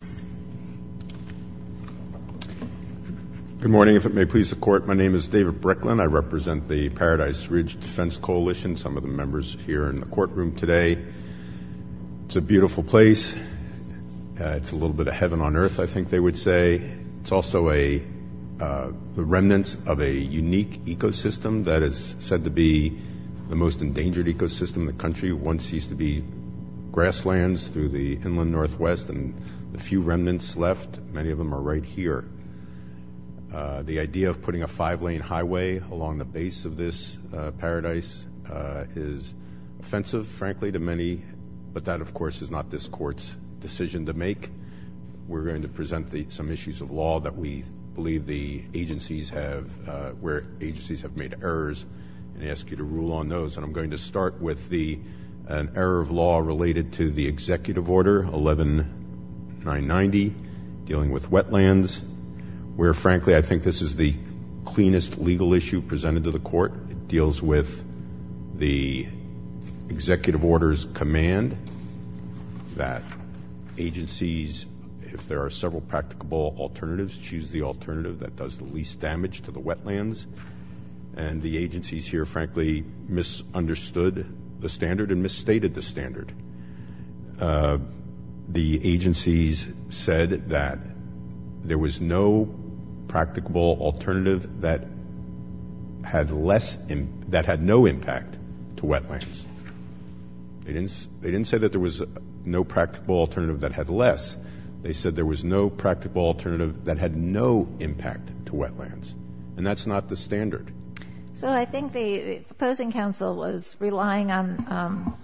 Good morning. If it may please the Court, my name is David Bricklin. I represent the Paradise Ridge Defense Coalition, some of the members here in the courtroom today. It's a beautiful place. It's a little bit of heaven on earth, I think they would say. It's also the remnants of a unique ecosystem that is said to be the most endangered ecosystem in the world. A few remnants left, many of them are right here. The idea of putting a five-lane highway along the base of this paradise is offensive, frankly, to many, but that of course is not this Court's decision to make. We're going to present some issues of law that we believe the agencies have made errors and ask you to rule on those. I'm going to start with an error of law related to the Executive Order 11-990 dealing with wetlands, where frankly I think this is the cleanest legal issue presented to the Court. It deals with the Executive Order's command that agencies, if there are several practicable alternatives, choose the alternative that does the least damage to the wetlands. And the agencies here frankly misunderstood the standard and misstated the standard. The agencies said that there was no practicable alternative that had no impact to wetlands. They didn't say that there was no practicable alternative that had less. They said there was no practicable alternative that had no impact to wetlands. And that's not the standard. So I think the opposing counsel was relying on,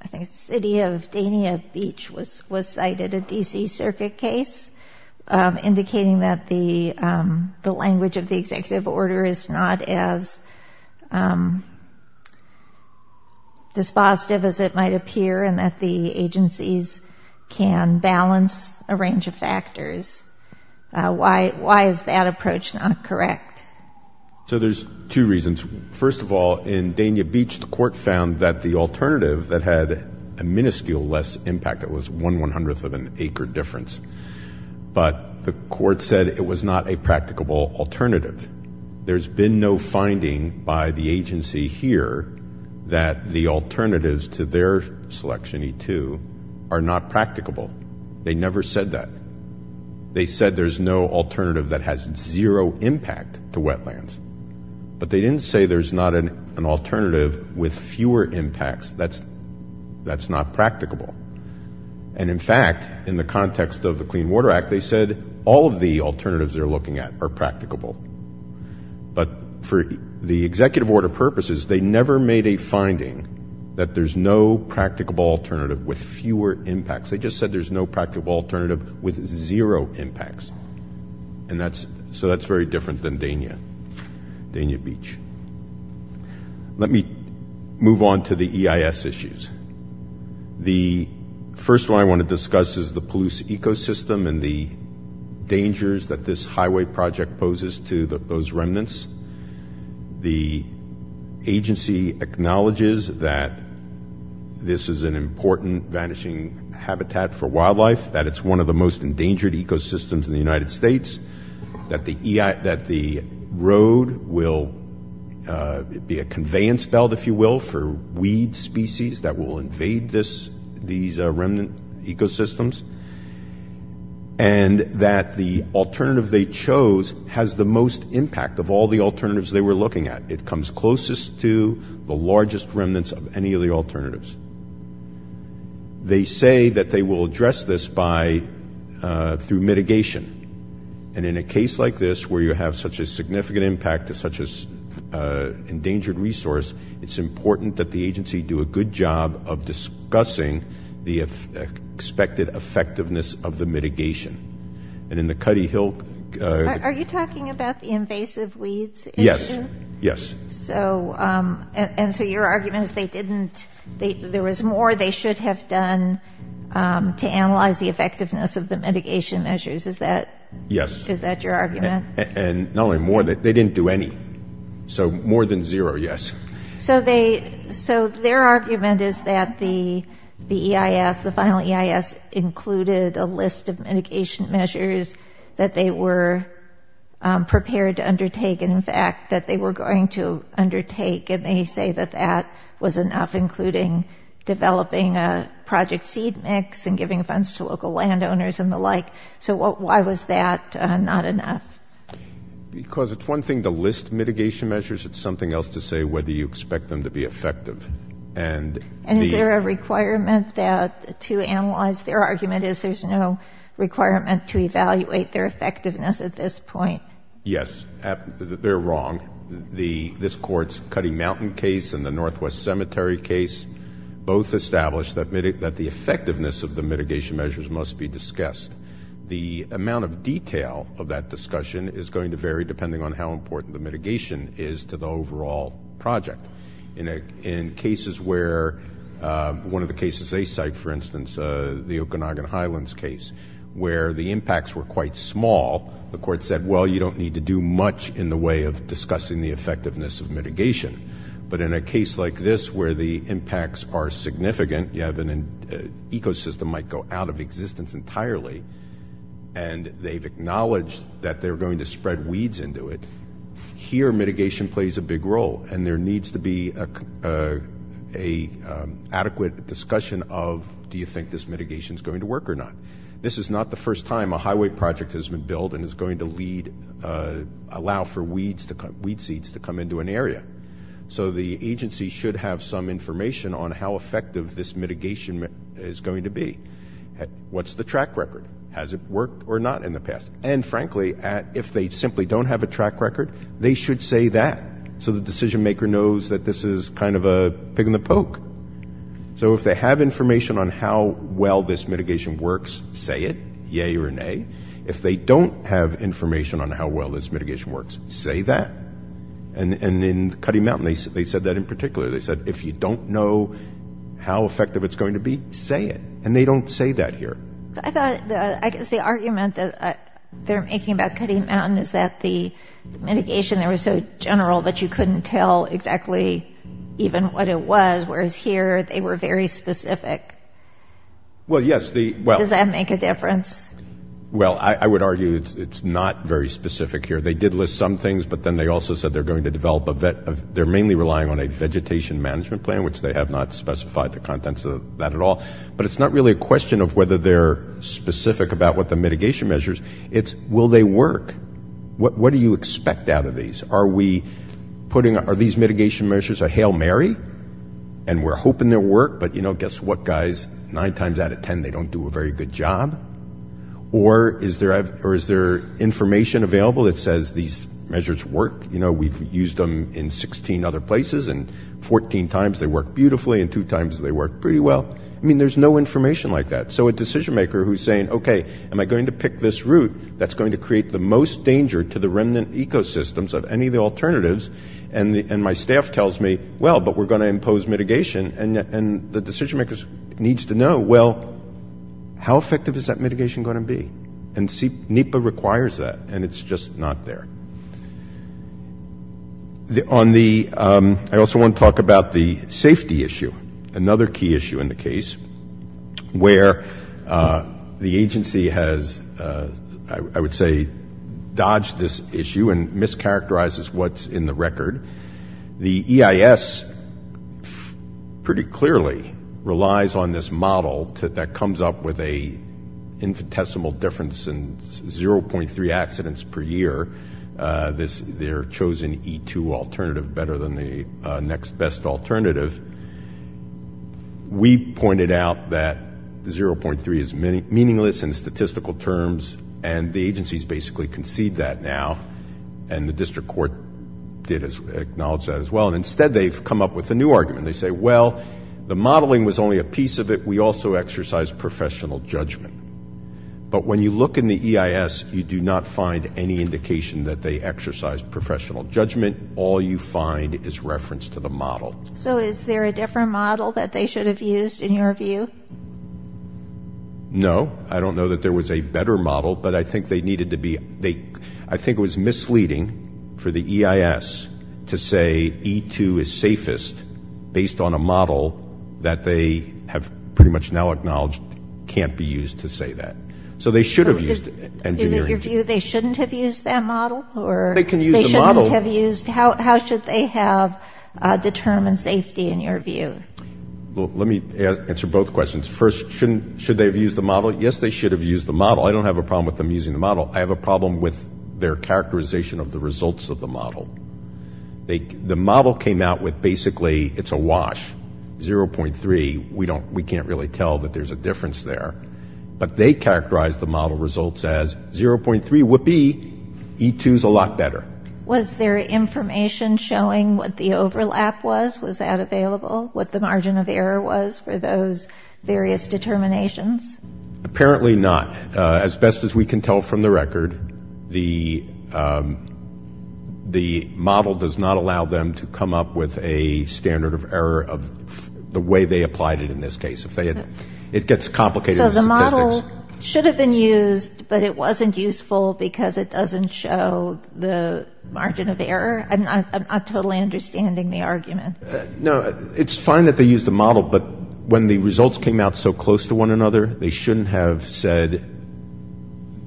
I think City of Dania Beach was cited a D.C. Circuit case indicating that the language of the Executive Order is not as dispositive as it might appear and that the agencies can balance a range of factors. Why is that approach not correct? So there's two reasons. First of all, in Dania Beach the Court found that the alternative that had a minuscule less impact, it was one one-hundredth of an acre difference, but the Court said it was not a practicable alternative. There's been no finding by the agency here that the alternatives to their selection, E2, are not practicable. They never said that. They said there's no alternative that has zero impact to wetlands. But they didn't say there's not an alternative with fewer impacts. That's not practicable. And in fact, in the context of the Clean Water Act, they said all of the alternatives they're looking at are practicable. But for the Executive Order purposes, they never made a finding that there's no practicable alternative with fewer impacts. They just said there's no practicable alternative with zero impacts. So that's very different than Dania Beach. Let me move on to the EIS issues. The first one I want to discuss is the Palouse ecosystem and the dangers that this highway project poses to those remnants. The agency acknowledges that this is an important vanishing habitat for wildlife, that it's one of the most endangered ecosystems in the United States, that the road will be a conveyance belt, if you will, for weed species that will invade these remnant ecosystems, and that the alternative they chose has the most impact of all the alternatives they were looking at. It comes closest to the largest remnants of any of the alternatives. They say that they will address this by – through mitigation. And in a case like this, where you have such a significant impact to such an endangered resource, it's important that the agency do a good job of discussing the expected effectiveness of the mitigation. And in the Cuddy Hill – Are you talking about the invasive weeds issue? Yes. Yes. So – and so your argument is they didn't – there was more they should have done to analyze the effectiveness of the mitigation measures. Is that – Yes. Is that your argument? And not only more, they didn't do any. So more than zero, yes. So they – so their argument is that the EIS, the final EIS, included a list of mitigation measures that they were prepared to undertake, and in fact that they were going to undertake. And they say that that was enough, including developing a project seed mix and giving funds to local landowners and the like. So why was that not enough? Because it's one thing to list mitigation measures. It's something else to say whether you expect them to be effective. And the – And is there a requirement that – to analyze – their argument is there's no requirement to evaluate their effectiveness at this point. Yes. They're wrong. The – this Court's Cuddy Mountain case and the Northwest Cemetery case both established that the effectiveness of the mitigation measures must be discussed. The amount of detail of that discussion is going to vary depending on how important the mitigation is to the overall project. In cases where – one of the cases they cite, for instance, the Okanagan Highlands case, where the impacts were quite small, the Court said, well, you don't need to do much in the way of discussing the effectiveness of mitigation. But in a case like this where the impacts are significant, you have an – ecosystem might go out of existence entirely, and they've acknowledged that they're going to spread weeds into it, here mitigation plays a big role. And there needs to be a adequate discussion of do you think this mitigation's going to work or not. This is not the first time a highway project has been built and is going to lead – allow for weeds to – weed seeds to come into an area. So the agency should have some information on how effective this mitigation is going to be. What's the track record? Has it worked or not in the past? And frankly, if they simply don't have a track record, they should say that so the decision maker knows that this is kind of a pig in the poke. So if they have information on how well this mitigation works, say it, yay or nay. If they don't have information on how well this mitigation works, say that. And in Cutty Mountain, they said that in particular. They said if you don't know how effective it's going to be, say it. And they don't say that here. I thought – I guess the argument that they're making about Cutty Mountain is that the mitigation there was so general that you couldn't tell exactly even what it was, whereas here they were very specific. Well yes, the – Does that make a difference? Well, I would argue it's not very specific here. They did list some things, but then they also said they're going to develop a – they're mainly relying on a vegetation management plan, which they have not specified the contents of that at all. But it's not really a question of whether they're specific about what the mitigation measures. It's will they work? What do you expect out of these? Are we putting – are these mitigation measures a hail Mary? And we're hoping they'll work, but you know, guess what guys? Nine times out of ten they don't do a very good job. Or is there information available that says these measures work? You know, we've used them in 16 other places and 14 times they worked beautifully and two times they worked pretty well. I mean, there's no information like that. So a decision maker who's saying, okay, am I going to pick this route that's going to create the most danger to the remnant ecosystems of any of the alternatives? And my staff tells me, well, but we're going to impose mitigation. And the decision maker needs to know, well, how effective is that mitigation going to be? And NEPA requires that, and it's just not there. On the – I also want to talk about the safety issue, another key issue in the case, where the agency has, I would say, dodged this issue and mischaracterizes what's in the record. The EIS pretty clearly relies on this model that comes up with a infinitesimal difference in 0.3 accidents per year, their chosen E2 alternative better than the next best alternative. We pointed out that 0.3 is meaningless in statistical terms, and the agencies basically concede that now, and the district court did acknowledge that as well. And instead, they've come up with a new argument. They say, well, the modeling was only a piece of it. We also exercised professional judgment. But when you look in the EIS, you do not find any indication that they exercised professional judgment. All you find is reference to the model. So is there a different model that they should have used, in your view? No. I don't know that there was a better model, but I think they needed to be – I think it was misleading for the EIS to say E2 is safest based on a model that they have pretty much now acknowledged can't be used to say that. So they should have used engineering – Is it your view they shouldn't have used that model, or – They can use the model – They shouldn't have used – how should they have determined safety, in your view? Let me answer both questions. First, should they have used the model? Yes, they should have used the model. I don't have a problem with them using the model. I have a problem with their characterization of the results of the model. The model came out with basically it's a wash, 0.3. We can't really tell that there's a difference there. But they characterized the model results as 0.3 would be E2 is a lot better. Was there information showing what the overlap was? Was that available? What the margin of error was for those various determinations? Apparently not. As best as we can tell from the record, the model does not allow them to come up with a standard of error of the way they applied it in this case. It gets complicated with statistics. The model should have been used, but it wasn't useful because it doesn't show the margin of error. I'm not totally understanding the argument. No, it's fine that they used the model, but when the results came out so close to one another, they shouldn't have said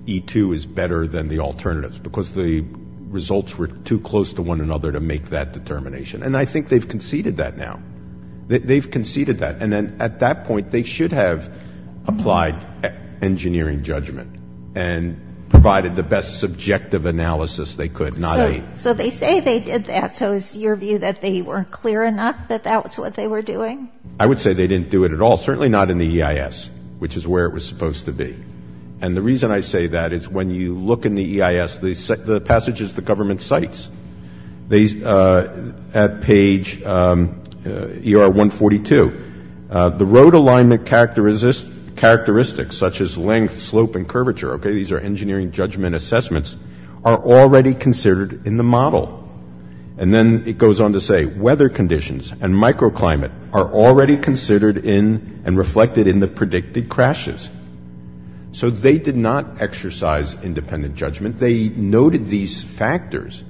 E2 is better than the alternatives because the results were too close to one another to make that determination. And I think they've conceded that now. They've conceded that. And then at that point, they should have applied engineering judgment and provided the best subjective analysis they could, not a... So they say they did that, so it's your view that they weren't clear enough that that's what they were doing? I would say they didn't do it at all. Certainly not in the EIS, which is where it was supposed to be. And the reason I say that is when you look in the EIS, the passages the government cites at page ER142, the road alignment characteristics, such as length, slope, and curvature, okay, these are engineering judgment assessments, are already considered in the model. And then it goes on to say weather conditions and microclimate are already considered in and reflected in the predicted crashes. So they did not exercise independent judgment. They noted these factors,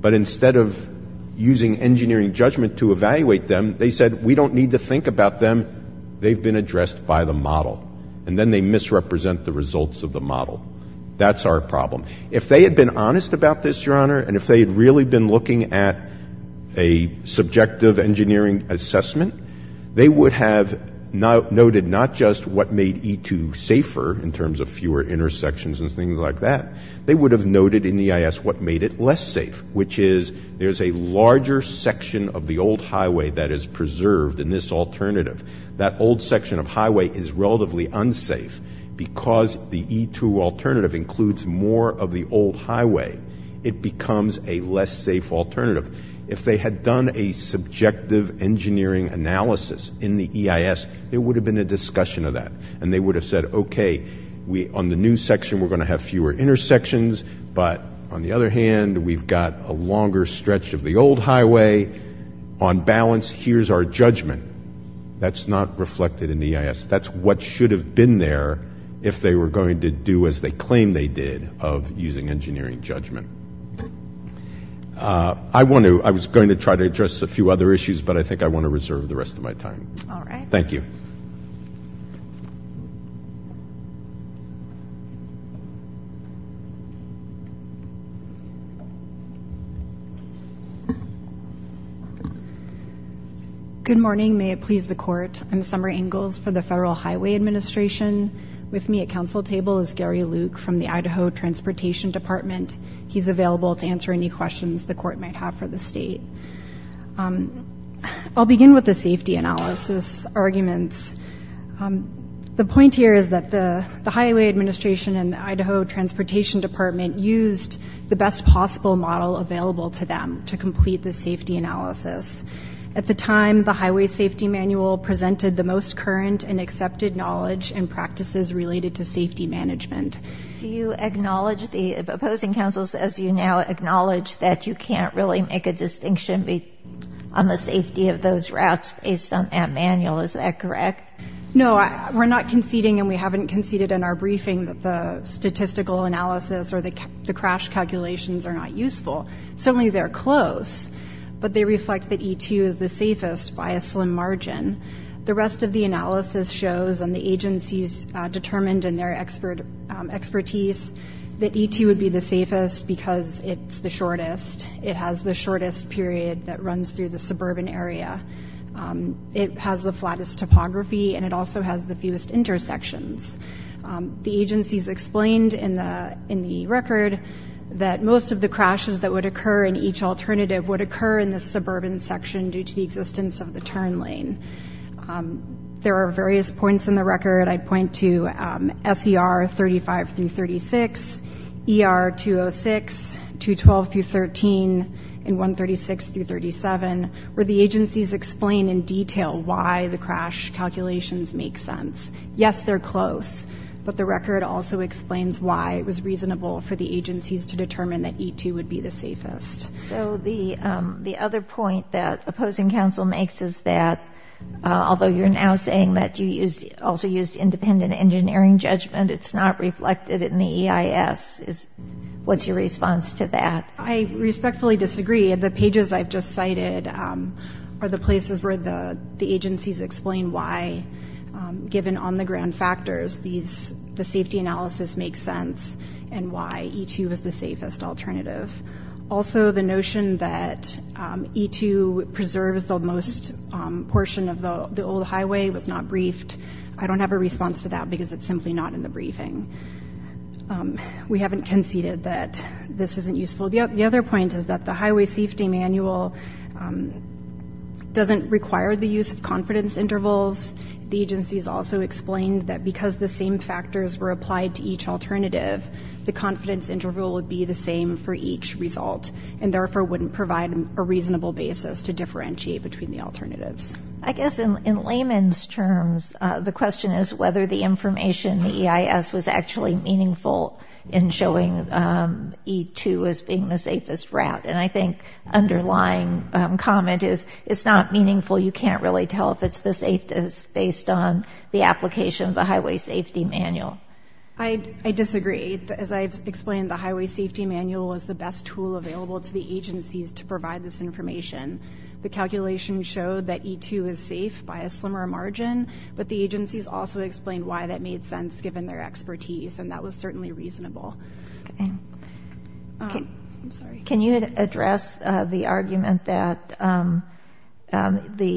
but instead of using engineering judgment to evaluate them, they said we don't need to think about them. They've been addressed by the model. And then they misrepresent the results of the model. That's our problem. If they had been honest about this, Your Honor, and if they had really been looking at a subjective engineering assessment, they would have noted not just what made E2 safer in terms of fewer intersections and things like that. They would have noted in the EIS what made it less safe, which is there's a larger section of the old highway that is preserved in this alternative. That old section of highway is relatively unsafe because the E2 alternative includes more of the old highway. It becomes a less safe alternative. If they had done a subjective engineering analysis in the EIS, there would have been a discussion of that. And they would have said, okay, on the new section we're going to have fewer intersections, but on the other hand, we've got a longer stretch of the old highway. On balance, here's our judgment. That's not reflected in the EIS. That's what should have been there if they were going to do as they claim they did of using engineering judgment. I was going to try to address a few other issues, but I think I want to reserve the rest of my time. All right. Thank you. Good morning. May it please the court. I'm Summer Ingalls for the Federal Highway Administration. With me at council table is Gary Luke from the Idaho Transportation Department. He's available to answer any questions the court might have for the state. I'll begin with the safety analysis arguments. The point here is that the Highway Administration and the Idaho Transportation Department used the best possible model available to them to complete the safety analysis. At the time, the highway safety manual presented the most current and accepted knowledge and practices related to safety management. Do you acknowledge the opposing counsels as you now acknowledge that you can't really make a distinction on the safety of those routes based on that manual? Is that correct? No, we're not conceding and we haven't conceded in our briefing that the statistical analysis or the crash calculations are not useful. Certainly they're close, but they reflect that E2 is the safest by a slim margin. The rest of the analysis shows and the agencies determined in their expertise that E2 would be the safest because it's the shortest. It has the shortest period that runs through the suburban area. It has the flattest topography and it also has the fewest intersections. The agencies explained in the record that most of the crashes that would occur in each alternative would occur in the suburban section due to the existence of the turn lane. There are various points in the record. I'd point to SER 35 through 36, ER 206, 212 through 13, and 136 through 37 where the agencies explain in detail why the crash calculations make sense. Yes, they're close, but the record also explains why it was reasonable for the agencies to determine that E2 would be the safest. So the other point that opposing counsel makes is that although you're now saying that you have an engineering judgment, it's not reflected in the EIS. What's your response to that? I respectfully disagree. The pages I've just cited are the places where the agencies explain why given on-the-ground factors the safety analysis makes sense and why E2 is the safest alternative. Also, the notion that E2 preserves the most portion of the old highway was not because it's simply not in the briefing. We haven't conceded that this isn't useful. The other point is that the Highway Safety Manual doesn't require the use of confidence intervals. The agencies also explained that because the same factors were applied to each alternative, the confidence interval would be the same for each result and therefore wouldn't provide a reasonable basis to differentiate between the alternatives. I guess in layman's terms, the question is whether the information in the EIS was actually meaningful in showing E2 as being the safest route. And I think the underlying comment is it's not meaningful. You can't really tell if it's the safest based on the application of the Highway Safety Manual. I disagree. As I've explained, the Highway Safety Manual is the best tool available to the agencies to provide this information. The calculation showed that E2 is safe by a slimmer margin, but the agencies also explained why that made sense given their expertise and that was certainly reasonable. Can you address the argument that the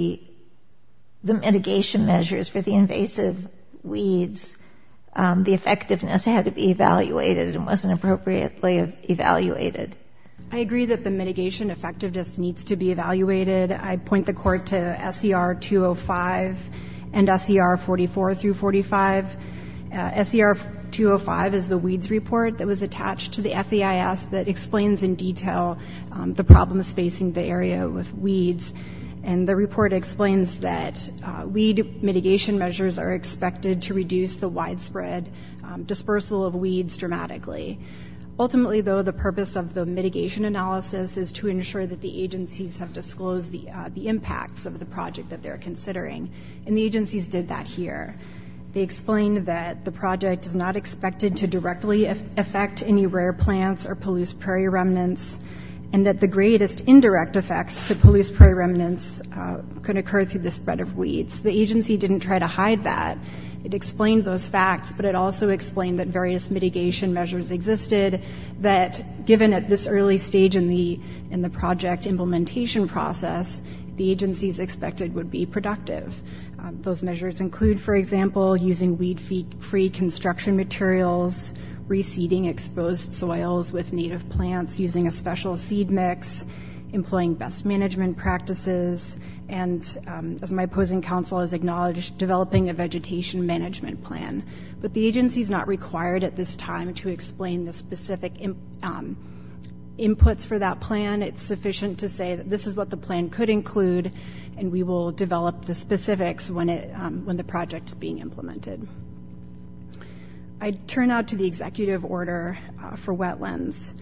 mitigation measures for the invasive weeds, the effectiveness had to be evaluated and wasn't appropriately evaluated? I agree that the mitigation effectiveness needs to be evaluated. I point the court to SER 205 and SER 44 through 45. SER 205 is the weeds report that was attached to the FEIS that explains in detail the problems facing the area with weeds. And the report explains that weed mitigation measures are expected to reduce the widespread dispersal of weeds dramatically. Ultimately, though, the purpose of the mitigation analysis is to ensure that the agencies have disclosed the impacts of the project that they're considering. And the agencies did that here. They explained that the project is not expected to directly affect any rare plants or Palouse prairie remnants and that the greatest indirect effects to Palouse prairie remnants could occur through the spread of weeds. The agency didn't try to hide that. It explained those facts, but it also explained that various mitigation measures existed that given at this early stage in the project implementation process, the agencies expected would be productive. Those measures include, for example, using weed-free construction materials, reseeding exposed soils with native plants, using a special seed mix, employing best management practices, and as my opposing counsel has acknowledged, developing a vegetation management plan. But the agency is not required at this time to explain the specific inputs for that plan. It's sufficient to say that this is what the plan could include, and we will develop the specifics when the project is being implemented. I turn now to the executive order for wetlands.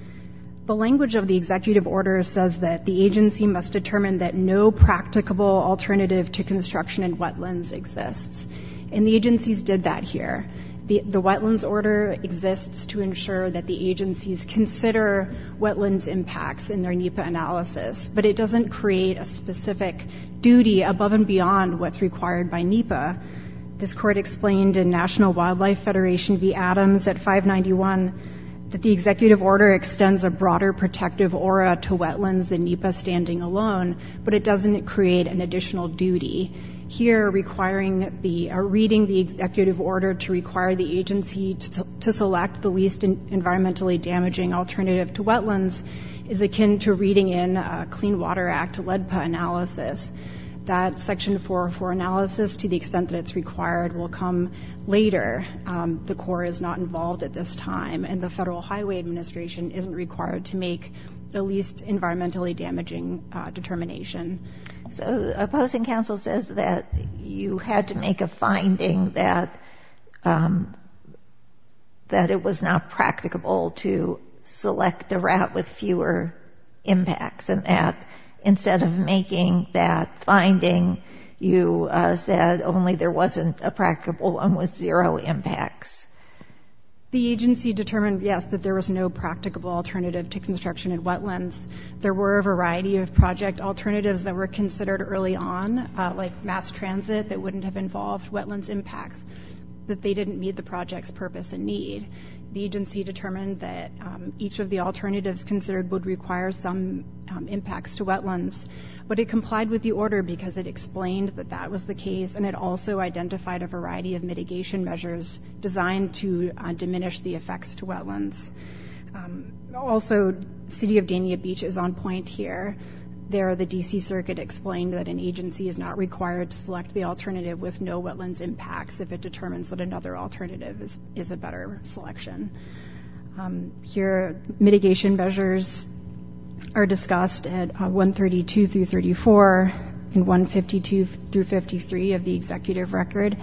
The language of the executive order says that the agency must determine that no practicable alternative to construction in wetlands exists, and the agencies did that here. The wetlands order exists to ensure that the agencies consider wetlands impacts in their NEPA analysis, but it doesn't create a specific duty above and beyond what's required by NEPA. This court explained in National Wildlife Federation v. Adams at 591 that the executive order extends a broader protective aura to wetlands than NEPA standing alone, but it doesn't create an additional duty. Here, reading the executive order to require the agency to select the least environmentally damaging alternative to wetlands is akin to reading in Clean Water Act LEDPA analysis. That section 404 analysis, to the extent that it's required, will come later. The Corps is not involved at this time, and the Federal Highway Administration isn't required to make the least environmentally damaging determination. So, opposing counsel says that you had to make a finding that it was not practicable to select the route with fewer impacts, and that instead of making that finding, you said only there wasn't a practicable one with zero impacts. The agency determined, yes, that there was no practicable alternative to construction in wetlands. There were a variety of project alternatives that were considered early on, like mass transit that wouldn't have involved wetlands impacts, but they didn't meet the project's purpose and need. The agency determined that each of the alternatives considered would require some impacts to wetlands, but it complied with the order because it explained that that was the case, and it also identified a variety of mitigation measures designed to diminish the effects to wetlands. Also, City of Dania Beach is on point here. There, the D.C. Circuit explained that an agency is not required to select the alternative with no wetlands impacts if it determines that another alternative is a better selection. Here, mitigation measures are discussed at 132 through 34, and 152 through 53 of the executive record,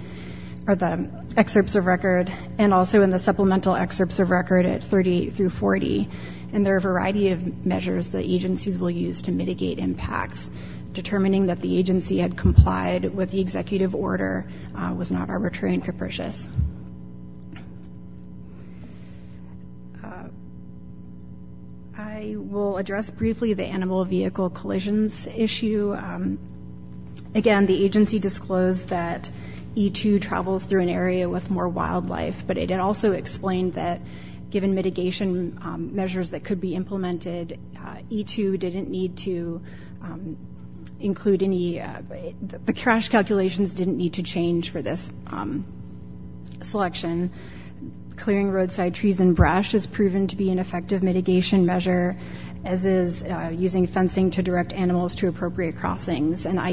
or the excerpts of record, and also in the supplemental excerpts of record at 38 through 40. There are a variety of measures that agencies will use to mitigate impacts. Determining that the agency had complied with the executive order was not arbitrary and capricious. I will address briefly the animal vehicle collisions issue. Again, the agency disclosed that E2 travels through an area with more wildlife, but it also explained that given mitigation measures that could be implemented, E2 didn't need to include any, the crash calculations didn't need to change for this selection. Clearing roadside trees and brush is proven to be an effective mitigation measure, as is using fencing to direct animals to appropriate places. I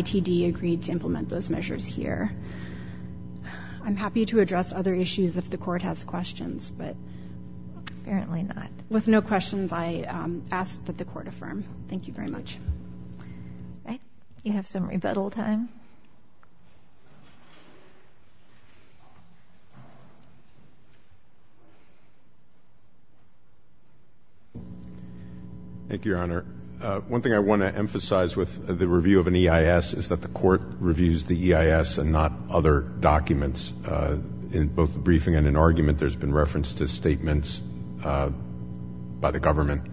am happy to address other issues if the Court has questions, but apparently not. With no questions, I ask that the Court affirm. Thank you very much. Do you have some rebuttal time? Thank you, Your Honor. One thing I want to emphasize with the review of an EIS is that the Court reviews the EIS and not other documents. In both the briefing and in argument, there has been reference to statements by the government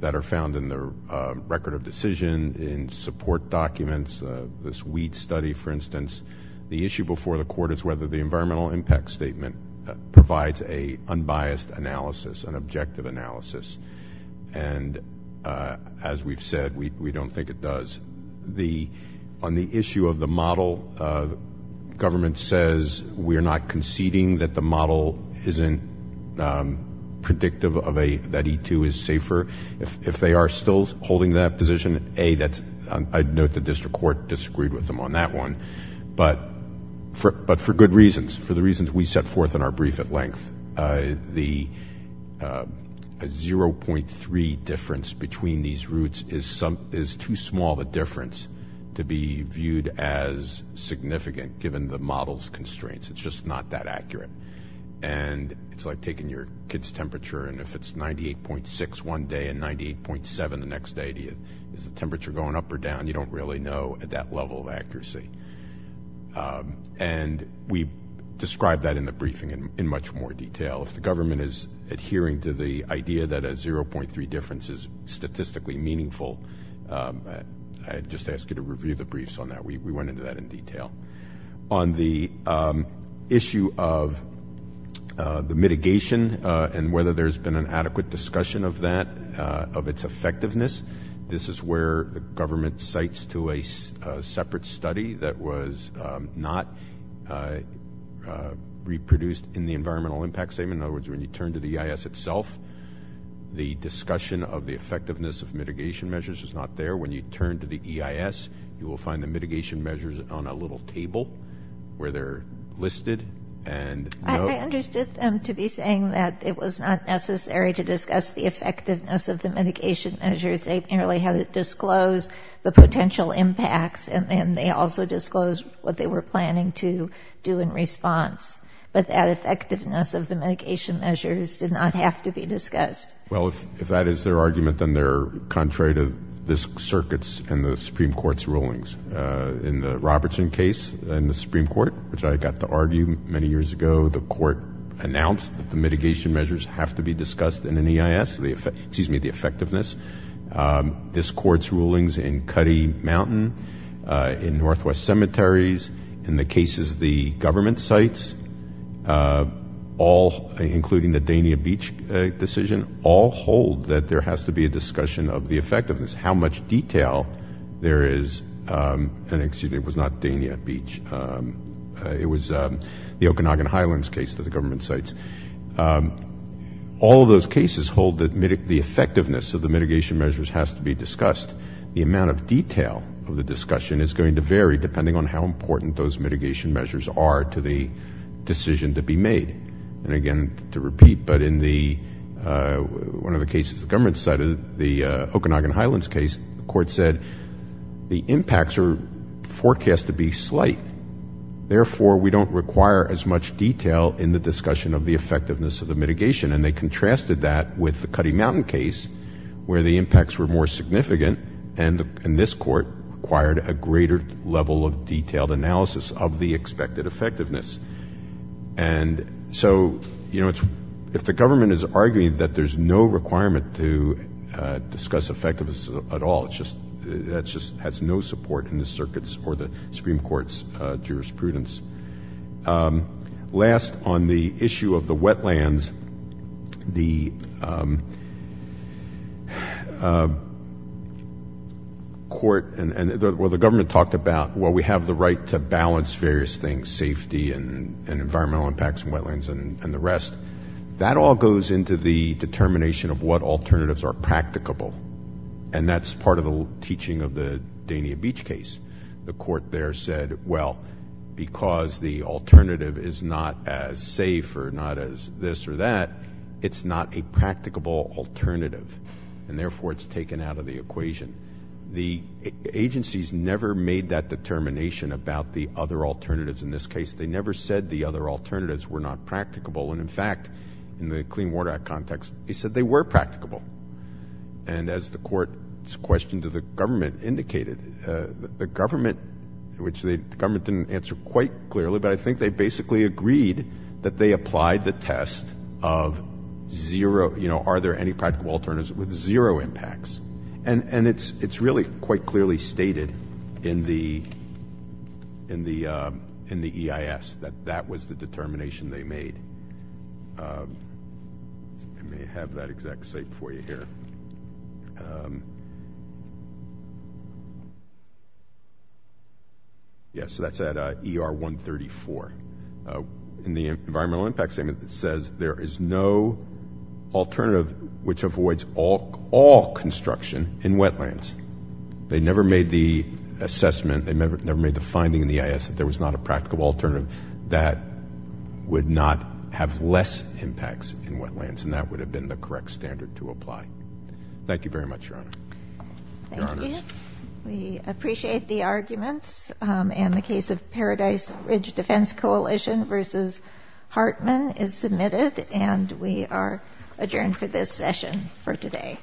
that are found in the record of decision, in support documents, this weed study, for instance. The issue before the Court is whether the environmental impact statement provides an unbiased analysis, an objective analysis. As we've said, we don't think it does. On the issue of the model, government says we are not conceding that the model isn't predictive that E2 is safer. If they are still holding that position, A, I'd note the District Court disagreed with them on that one, but for good reasons, we set forth in our brief at length, a 0.3 difference between these routes is too small of a difference to be viewed as significant, given the model's constraints. It's just not that accurate. It's like taking your kid's temperature, and if it's 98.6 one day and 98.7 the next day, is the temperature going up or down? You don't really know at that level of accuracy. We describe that in the briefing in much more detail. If the government is adhering to the idea that a 0.3 difference is statistically meaningful, I'd just ask you to review the briefs on that. We went into that in detail. On the issue of the mitigation and whether there's been an adequate discussion of that, of its effectiveness, this is where the government cites to a separate study that was not reproduced in the environmental impact statement. In other words, when you turn to the EIS itself, the discussion of the effectiveness of mitigation measures is not there. When you turn to the EIS, you will find the mitigation measures on a little table where they're listed and I understood them to be saying that it was not necessary to discuss the effectiveness of the mitigation measures. They merely had it disclosed, the potential impacts, and then they also disclosed what they were planning to do in response. But that effectiveness of the medication measures did not have to be discussed. Well, if that is their argument, then they're contrary to this circuit's and the Supreme Court's rulings. In the Robertson case in the Supreme Court, which I got to argue many years ago, the court announced that the mitigation measures have to be discussed in an EIS, excuse me, the effectiveness. This court's rulings in Cuddy Mountain, in Northwest Cemeteries, in the cases the government cites, all, including the Dania Beach decision, all hold that there has to be a discussion of the effectiveness. How much detail there is, and excuse me, it was the Okanagan Highlands case that the government cites, all of those cases hold that the effectiveness of the mitigation measures has to be discussed. The amount of detail of the discussion is going to vary depending on how important those mitigation measures are to the decision to be made. And again, to repeat, but in one of the cases the government cited, the Okanagan Highlands, therefore we don't require as much detail in the discussion of the effectiveness of the mitigation. And they contrasted that with the Cuddy Mountain case, where the impacts were more significant, and this court required a greater level of detailed analysis of the expected effectiveness. And so, you know, if the government is arguing that there's no requirement to discuss effectiveness at all, that just has no support in the circuit's for the Supreme Court's jurisprudence. Last, on the issue of the wetlands, the court, well the government talked about, well we have the right to balance various things, safety and environmental impacts from wetlands and the rest. That all goes into the determination of what alternatives are practicable, and that's part of the teaching of the Dania Beach case. The court there said, well, because the alternative is not as safe or not as this or that, it's not a practicable alternative, and therefore it's taken out of the equation. The agencies never made that determination about the other alternatives in this case. They never said the other alternatives were not practicable, and in fact, in the Clean Water Act context, they said they were practicable. And as the court's question to the government indicated, the government, which the government didn't answer quite clearly, but I think they basically agreed that they applied the test of zero, you know, are there any practicable alternatives with zero impacts. And it's really quite clearly stated in the EIS that that was the determination they made. Let me have that exact site for you here. Yeah, so that's at ER 134. In the environmental impact statement, it says there is no alternative which avoids all construction in wetlands. They never made the assessment, they never made the finding in the EIS that there was not a practical alternative that would not have less impacts in wetlands, and that would have been the correct standard to apply. Thank you very much, Your Honor. Thank you. Your Honors. We appreciate the arguments, and the case of Paradise Ridge Defense Coalition v. Hartman is submitted, and we are adjourned for this session for today.